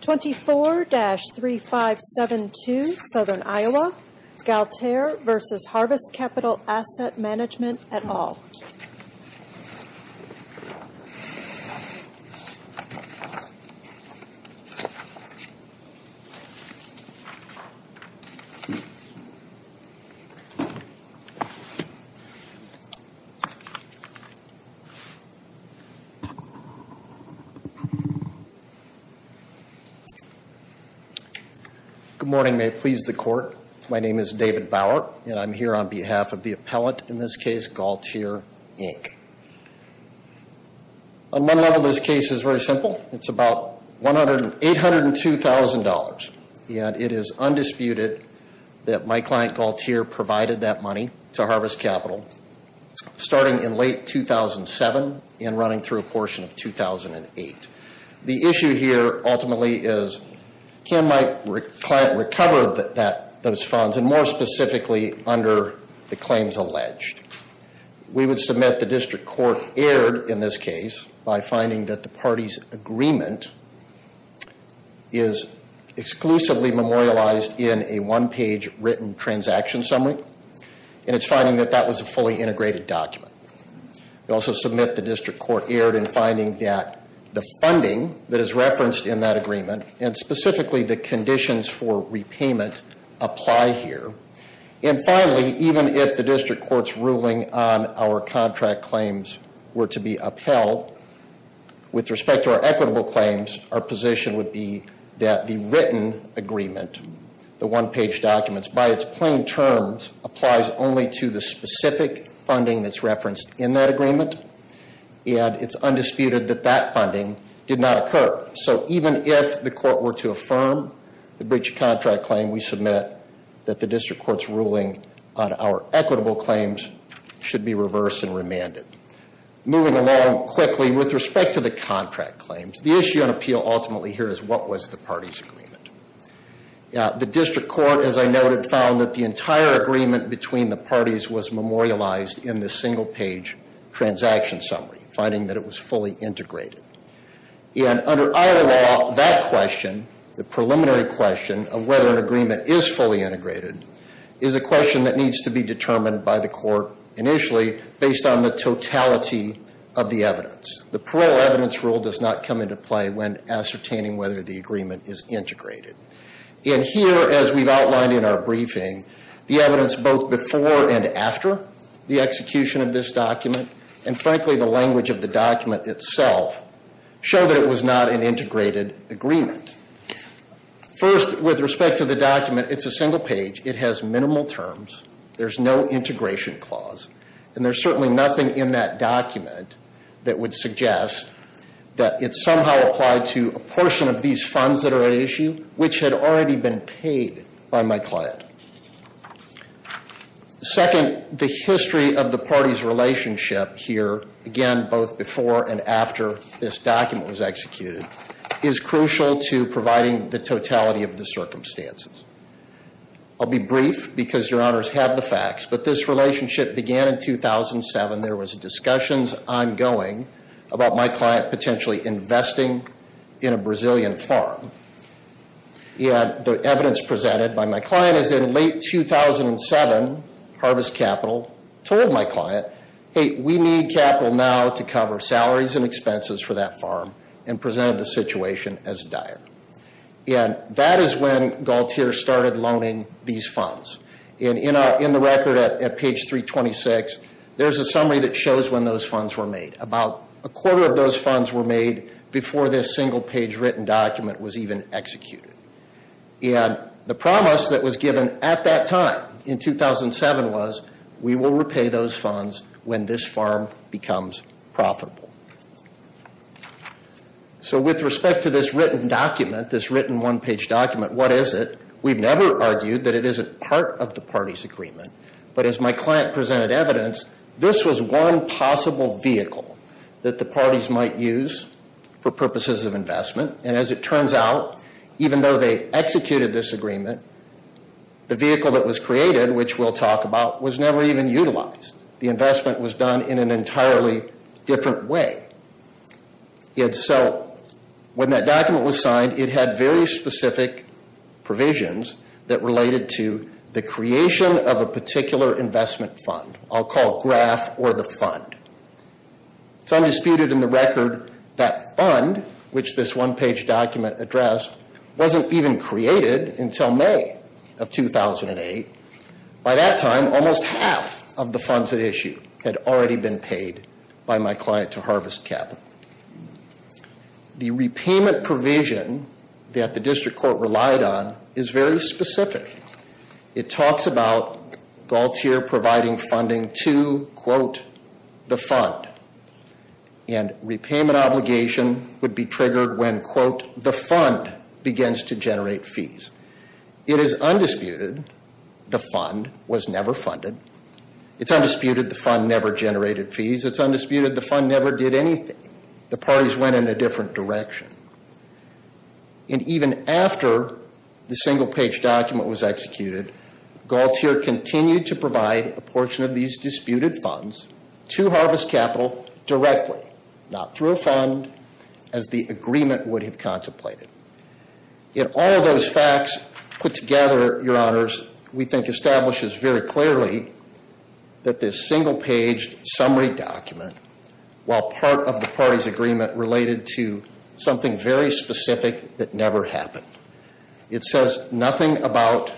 24-3572 Southern Iowa, Galtere v. Harvest Capital Asset Mgmt. et al. Good morning. May it please the court. My name is David Bauer, and I'm here on behalf of the appellate, in this case, Galtere, Inc. On one level, this case is very simple. It's about $802,000, and it is undisputed that my client, Galtere, provided that money to Harvest Capital starting in late 2007 and running through a portion of 2008. The issue here, ultimately, is can my client recover those funds, and more specifically, under the claims alleged? We would submit the district court erred in this case by finding that the party's agreement is exclusively memorialized in a one-page written transaction summary, and it's finding that that was a fully integrated document. We also submit the district court erred in finding that the funding that is referenced in that agreement, and specifically the conditions for repayment, apply here. And finally, even if the district court's ruling on our contract claims were to be upheld, with respect to our equitable claims, our position would be that the written agreement, the one-page documents, by its plain terms, applies only to the specific funding that's referenced in that agreement, and it's undisputed that that funding did not occur. So even if the court were to affirm the breach of contract claim, we submit that the district court's ruling on our equitable claims should be reversed and remanded. Moving along quickly, with respect to the contract claims, the issue on appeal ultimately here is what was the party's agreement? The district court, as I noted, found that the entire agreement between the parties was memorialized in the single-page transaction summary, finding that it was fully integrated. And under our law, that question, the preliminary question of whether an agreement is fully integrated, is a question that needs to be determined by the court initially, based on the totality of the evidence. The parole evidence rule does not come into play when ascertaining whether the agreement is integrated. And here, as we've outlined in our briefing, the evidence both before and after the execution of this document, and frankly the language of the document itself, show that it was not an integrated agreement. First, with respect to the document, it's a single page. It has minimal terms. There's no integration clause. And there's certainly nothing in that document that would suggest that it somehow applied to a portion of these funds that are at issue, which had already been paid by my client. Second, the history of the party's relationship here, again, both before and after this document was executed, is crucial to providing the totality of the circumstances. I'll be brief, because your honors have the facts, but this relationship began in 2007. There was discussions ongoing about my client potentially investing in a Brazilian farm. And the evidence presented by my client is that in late 2007, Harvest Capital told my client, hey, we need capital now to cover salaries and expenses for that farm, and presented the situation as dire. And that is when Galtier started loaning these funds. And in the record at page 326, there's a summary that shows when those funds were made. About a quarter of those funds were made before this single page written document was even executed. And the promise that was given at that time in 2007 was, we will repay those funds when this farm becomes profitable. So with respect to this written document, this written one page document, what is it? We've never argued that it isn't part of the party's agreement. But as my client presented evidence, this was one possible vehicle that the parties might use for purposes of investment. And as it turns out, even though they executed this agreement, the vehicle that was created, which we'll talk about, was never even utilized. The investment was done in an entirely different way. And so when that document was signed, it had very specific provisions that related to the creation of a particular investment fund. I'll call it graph or the fund. It's undisputed in the record that fund, which this one page document addressed, wasn't even created until May of 2008. By that time, almost half of the funds at issue had already been paid by my client to harvest capital. The repayment provision that the district court relied on is very specific. It talks about Galtier providing funding to, quote, the fund. And repayment obligation would be triggered when, quote, the fund begins to generate fees. It is undisputed the fund was never funded. It's undisputed the fund never generated fees. It's undisputed the fund never did anything. The parties went in a different direction. And even after the single page document was executed, Galtier continued to provide a portion of these disputed funds to harvest capital directly. Not through a fund, as the agreement would have contemplated. In all of those facts put together, your honors, we think establishes very clearly that this single page summary document, while part of the party's agreement related to something very specific that never happened. It says nothing about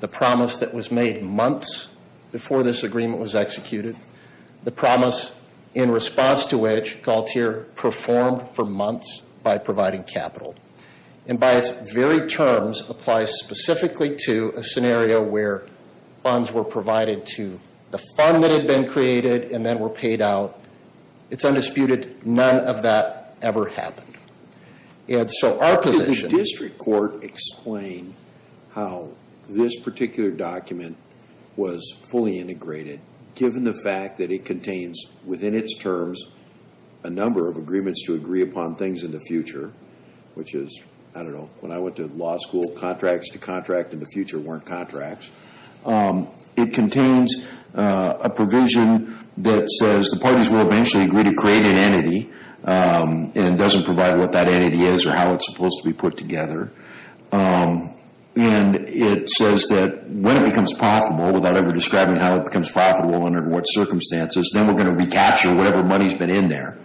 the promise that was made months before this agreement was executed. The promise in response to which Galtier performed for months by providing capital. And by its very terms, applies specifically to a scenario where funds were provided to the fund that had been created and then were paid out. It's undisputed none of that ever happened. And so our position- How this particular document was fully integrated, given the fact that it contains within its terms a number of agreements to agree upon things in the future. Which is, I don't know, when I went to law school, contracts to contract in the future weren't contracts. It contains a provision that says the parties will eventually agree to create an entity. And it doesn't provide what that entity is or how it's supposed to be put together. And it says that when it becomes profitable, without ever describing how it becomes profitable under what circumstances, then we're going to recapture whatever money's been in there.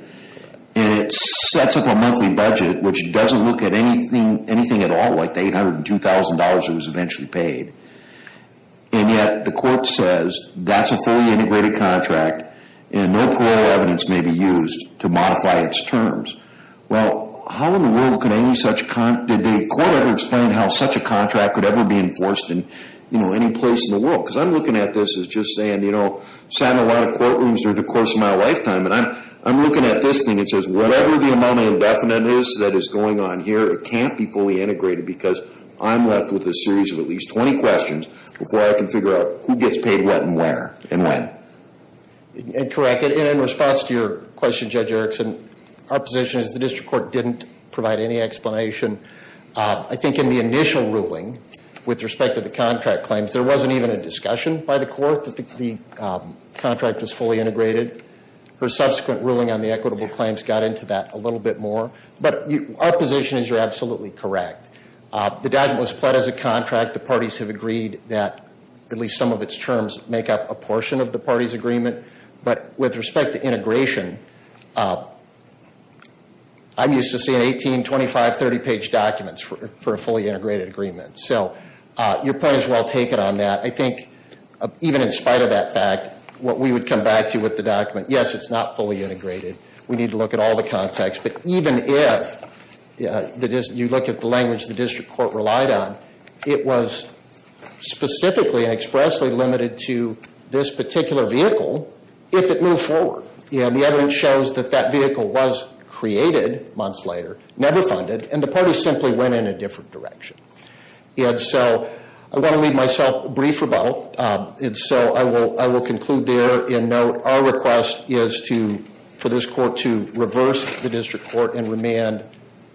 And it sets up a monthly budget which doesn't look at anything at all like the $802,000 it was eventually paid. And yet the court says that's a fully integrated contract and no parole evidence may be used to modify its terms. Well, how in the world did the court ever explain how such a contract could ever be enforced in any place in the world? Because I'm looking at this as just saying, you know, sat in a lot of courtrooms during the course of my lifetime. And I'm looking at this thing. It says whatever the amount of indefinite is that is going on here, it can't be fully integrated. Because I'm left with a series of at least 20 questions before I can figure out who gets paid what and where and when. Correct. And in response to your question, Judge Erickson, our position is the district court didn't provide any explanation. I think in the initial ruling with respect to the contract claims, there wasn't even a discussion by the court that the contract was fully integrated. The subsequent ruling on the equitable claims got into that a little bit more. But our position is you're absolutely correct. The document was pled as a contract. The parties have agreed that at least some of its terms make up a portion of the party's agreement. But with respect to integration, I'm used to seeing 18-, 25-, 30-page documents for a fully integrated agreement. So your point is well taken on that. I think even in spite of that fact, what we would come back to with the document, yes, it's not fully integrated. We need to look at all the context. But even if you look at the language the district court relied on, it was specifically and expressly limited to this particular vehicle if it moved forward. The evidence shows that that vehicle was created months later, never funded, and the party simply went in a different direction. And so I want to leave myself a brief rebuttal. And so I will conclude there and note our request is for this court to reverse the district court and remand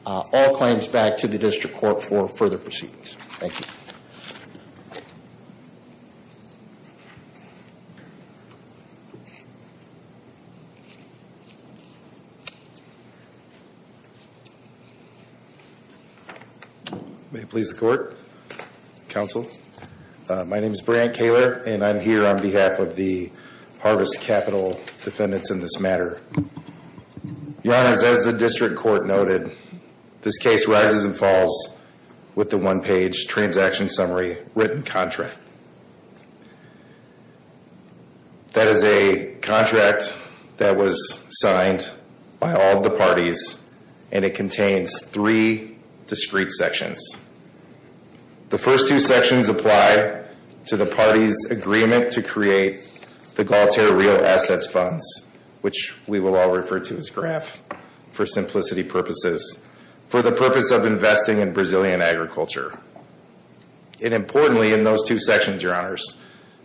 all claims back to the district court for further proceedings. Thank you. May it please the court, counsel. My name is Brant Kaler, and I'm here on behalf of the Harvest Capital defendants in this matter. Your honors, as the district court noted, this case rises and falls with the one-page transaction summary written contract. That is a contract that was signed by all of the parties, and it contains three discrete sections. The first two sections apply to the party's agreement to create the Galtier Real Assets Funds, which we will all refer to as GRAF for simplicity purposes, for the purpose of investing in Brazilian agriculture. And importantly, in those two sections, your honors,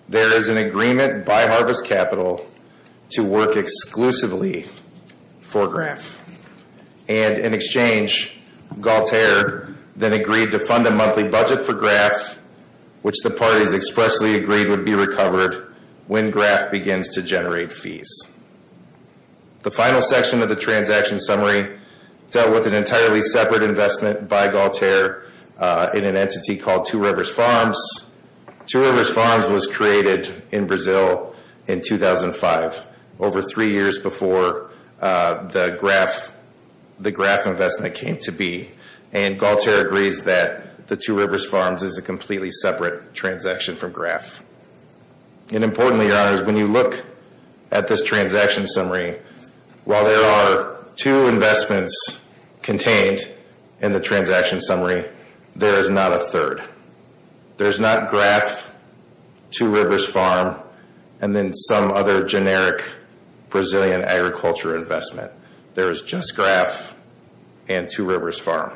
there is an agreement by Harvest Capital to work exclusively for GRAF. And in exchange, GALTIER then agreed to fund a monthly budget for GRAF, which the parties expressly agreed would be recovered when GRAF begins to generate fees. The final section of the transaction summary dealt with an entirely separate investment by GALTIER in an entity called Two Rivers Farms. Two Rivers Farms was created in Brazil in 2005, over three years before the GRAF investment came to be, and GALTIER agrees that the Two Rivers Farms is a completely separate transaction from GRAF. And importantly, your honors, when you look at this transaction summary, while there are two investments contained in the transaction summary, there is not a third. There is not GRAF, Two Rivers Farms, and then some other generic Brazilian agriculture investment. There is just GRAF and Two Rivers Farms.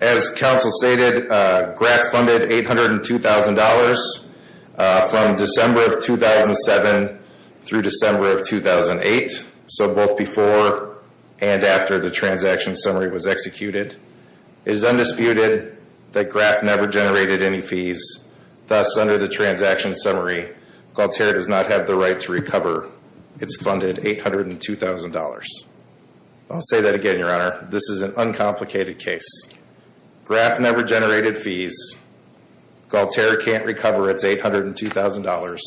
As counsel stated, GRAF funded $802,000 from December of 2007 through December of 2008, so both before and after the transaction summary was executed. It is undisputed that GRAF never generated any fees. Thus, under the transaction summary, GALTIER does not have the right to recover its funded $802,000. I'll say that again, your honor. This is an uncomplicated case. GRAF never generated fees. GALTIER can't recover its $802,000,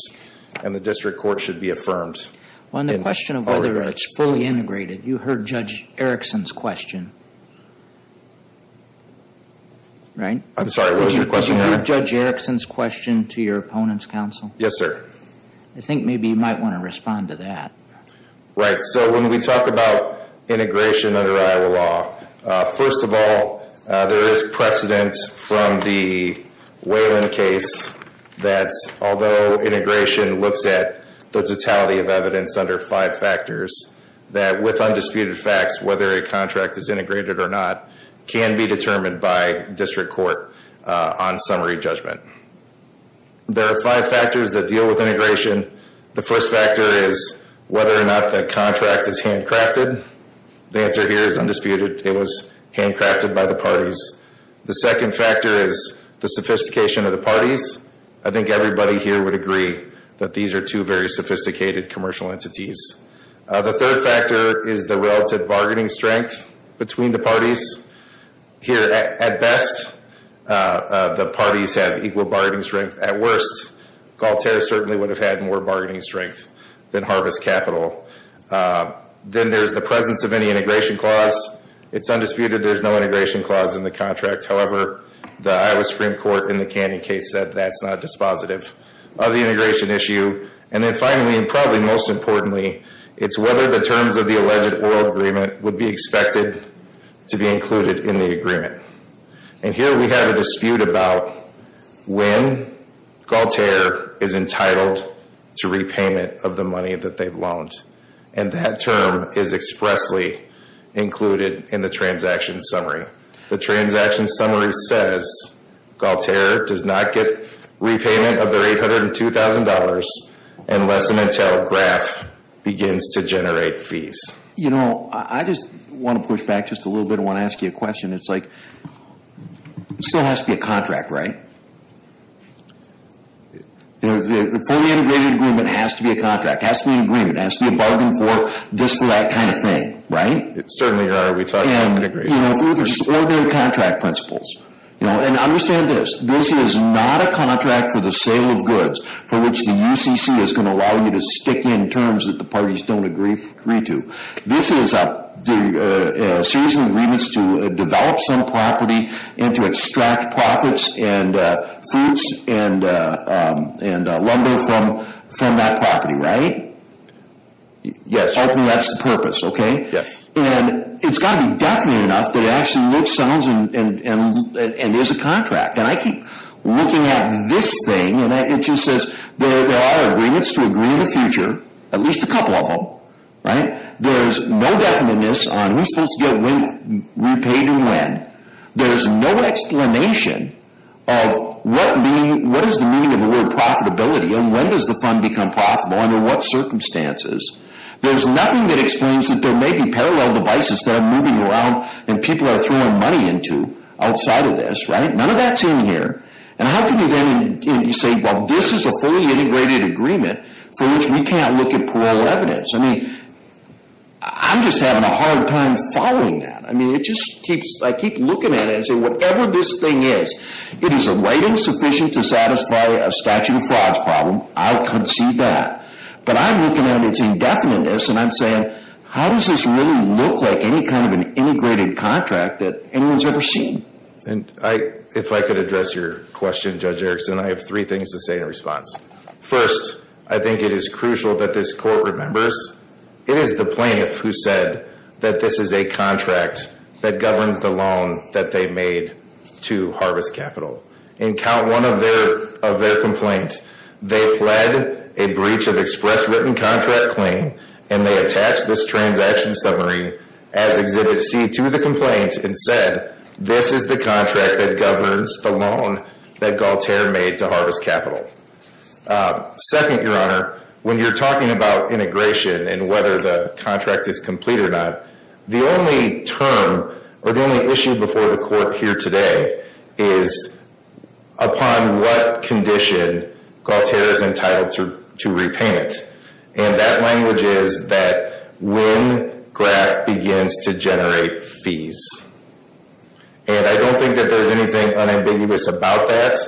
and the district court should be affirmed. On the question of whether it's fully integrated, you heard Judge Erickson's question, right? I'm sorry, what was your question, your honor? Did you hear Judge Erickson's question to your opponent's counsel? Yes, sir. I think maybe you might want to respond to that. Right, so when we talk about integration under Iowa law, first of all, there is precedent from the Whalen case that although integration looks at the totality of evidence under five factors, that with undisputed facts, whether a contract is integrated or not can be determined by district court on summary judgment. There are five factors that deal with integration. The first factor is whether or not the contract is handcrafted. The answer here is undisputed. It was handcrafted by the parties. The second factor is the sophistication of the parties. I think everybody here would agree that these are two very sophisticated commercial entities. The third factor is the relative bargaining strength between the parties. Here, at best, the parties have equal bargaining strength. At worst, GALTIER certainly would have had more bargaining strength than Harvest Capital. Then there's the presence of any integration clause. It's undisputed there's no integration clause in the contract. However, the Iowa Supreme Court in the Candy case said that's not dispositive of the integration issue. And then finally, and probably most importantly, it's whether the terms of the alleged oral agreement would be expected to be included in the agreement. And here we have a dispute about when GALTIER is entitled to repayment of the money that they've loaned. And that term is expressly included in the transaction summary. The transaction summary says GALTIER does not get repayment of their $802,000 unless and until GRAF begins to generate fees. You know, I just want to push back just a little bit. I want to ask you a question. It's like, it still has to be a contract, right? The fully integrated agreement has to be a contract. It has to be an agreement. It has to be a bargain for this or that kind of thing, right? Certainly, Your Honor. We talked about integration. And, you know, if we look at just ordinary contract principles. And understand this. This is not a contract for the sale of goods for which the UCC is going to allow you to stick in terms that the parties don't agree to. This is a series of agreements to develop some property and to extract profits and foods and lumber from that property, right? Yes. I think that's the purpose, okay? Yes. And it's got to be definite enough that it actually looks, sounds, and is a contract. And I keep looking at this thing. And it just says there are agreements to agree in the future, at least a couple of them, right? There's no definiteness on who's supposed to get when, repaid, and when. There's no explanation of what is the meaning of the word profitability and when does the fund become profitable and in what circumstances. There's nothing that explains that there may be parallel devices that are moving around and people are throwing money into outside of this, right? None of that's in here. And how can you then say, well, this is a fully integrated agreement for which we can't look at plural evidence? I mean, I'm just having a hard time following that. I mean, it just keeps, I keep looking at it and saying, whatever this thing is, it is a right insufficient to satisfy a statute of frauds problem. I'll concede that. But I'm looking at its indefiniteness and I'm saying, how does this really look like any kind of an integrated contract that anyone's ever seen? And if I could address your question, Judge Erickson, I have three things to say in response. First, I think it is crucial that this court remembers, it is the plaintiff who said that this is a contract that governs the loan that they made to Harvest Capital. In count one of their complaint, they pled a breach of express written contract claim and they attached this transaction summary as Exhibit C to the complaint and said, this is the contract that governs the loan that Galtier made to Harvest Capital. Second, your honor, when you're talking about integration and whether the contract is complete or not, the only term or the only issue before the court here today is upon what condition Galtier is entitled to repayment. And that language is that when graph begins to generate fees. And I don't think that there's anything unambiguous about that.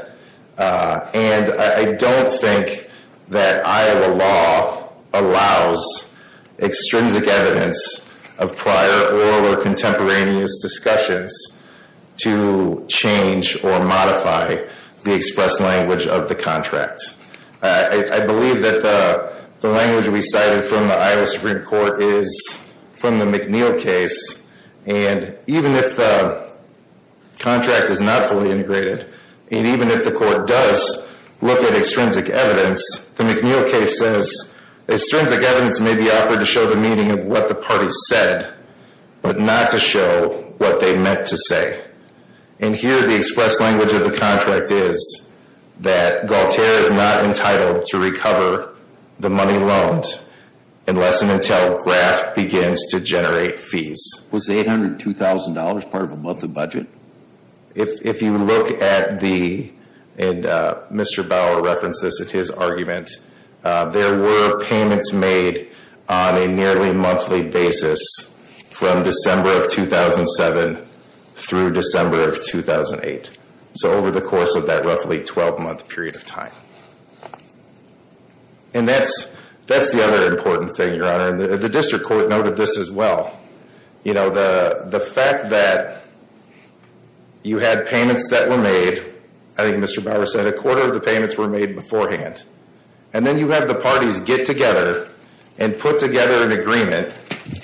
And I don't think that Iowa law allows extrinsic evidence of prior or contemporaneous discussions to change or modify the express language of the contract. I believe that the language we cited from the Iowa Supreme Court is from the McNeil case. And even if the contract is not fully integrated, and even if the court does look at extrinsic evidence, the McNeil case says extrinsic evidence may be offered to show the meaning of what the party said, but not to show what they meant to say. And here the express language of the contract is that Galtier is not entitled to recover the money loaned unless and until graph begins to generate fees. Was $802,000 part of a monthly budget? If you look at the, and Mr. Bauer referenced this in his argument, there were payments made on a nearly monthly basis from December of 2007 through December of 2008. So over the course of that roughly 12-month period of time. And that's the other important thing, Your Honor. The district court noted this as well. The fact that you had payments that were made. I think Mr. Bauer said a quarter of the payments were made beforehand. And then you have the parties get together and put together an agreement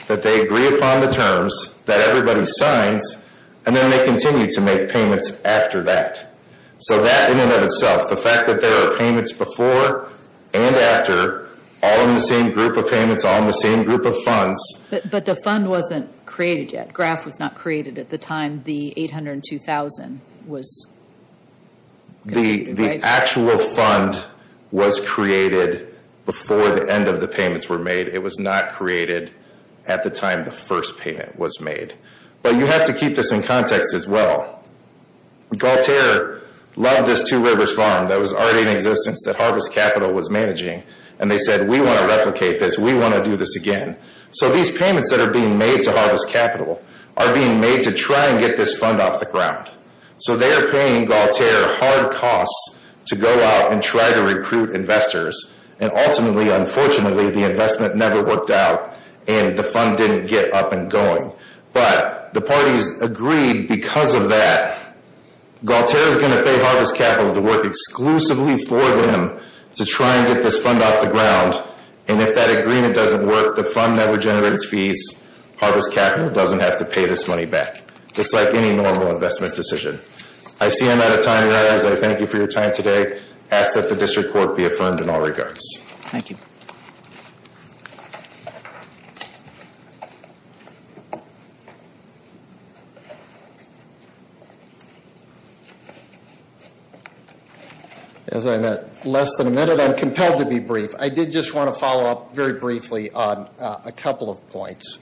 that they agree upon the terms that everybody signs. And then they continue to make payments after that. So that in and of itself, the fact that there are payments before and after, all in the same group of payments, all in the same group of funds. But the fund wasn't created yet. Graph was not created at the time the $802,000 was. The actual fund was created before the end of the payments were made. It was not created at the time the first payment was made. But you have to keep this in context as well. Galtier loved this Two Rivers Farm that was already in existence that Harvest Capital was managing. And they said, we want to replicate this. We want to do this again. So these payments that are being made to Harvest Capital are being made to try and get this fund off the ground. So they are paying Galtier hard costs to go out and try to recruit investors. And ultimately, unfortunately, the investment never worked out and the fund didn't get up and going. But the parties agreed because of that, Galtier is going to pay Harvest Capital to work exclusively for them to try and get this fund off the ground. And if that agreement doesn't work, the fund that would generate its fees, Harvest Capital, doesn't have to pay this money back. Just like any normal investment decision. I see I'm out of time, guys. I thank you for your time today. I ask that the district court be affirmed in all regards. Thank you. As I met less than a minute, I'm compelled to be brief. I did just want to follow up very briefly on a couple of points.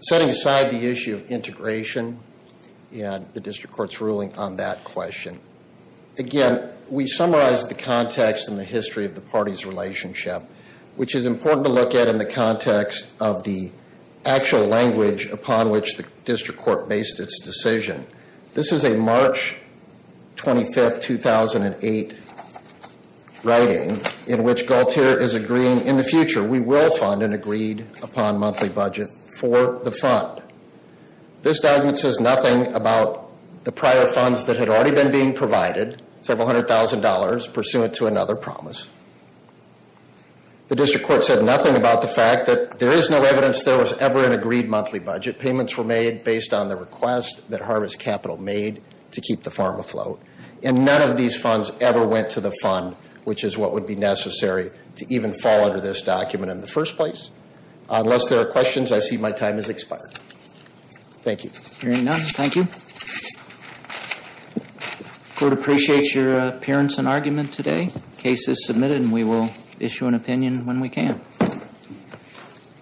Setting aside the issue of integration and the district court's ruling on that question. Again, we summarized the context and the history of the party's relationship, which is important to look at in the context of the actual language upon which the district court based its decision. This is a March 25, 2008 writing in which Galtier is agreeing in the future we will fund an agreed upon monthly budget for the fund. This document says nothing about the prior funds that had already been being provided, several hundred thousand dollars, pursuant to another promise. The district court said nothing about the fact that there is no evidence there was ever an agreed monthly budget. Payments were made based on the request that Harvest Capital made to keep the farm afloat. And none of these funds ever went to the fund, which is what would be necessary to even fall under this document in the first place. Unless there are questions, I see my time has expired. Thank you. Hearing none, thank you. Court appreciates your appearance and argument today. Case is submitted and we will issue an opinion when we can.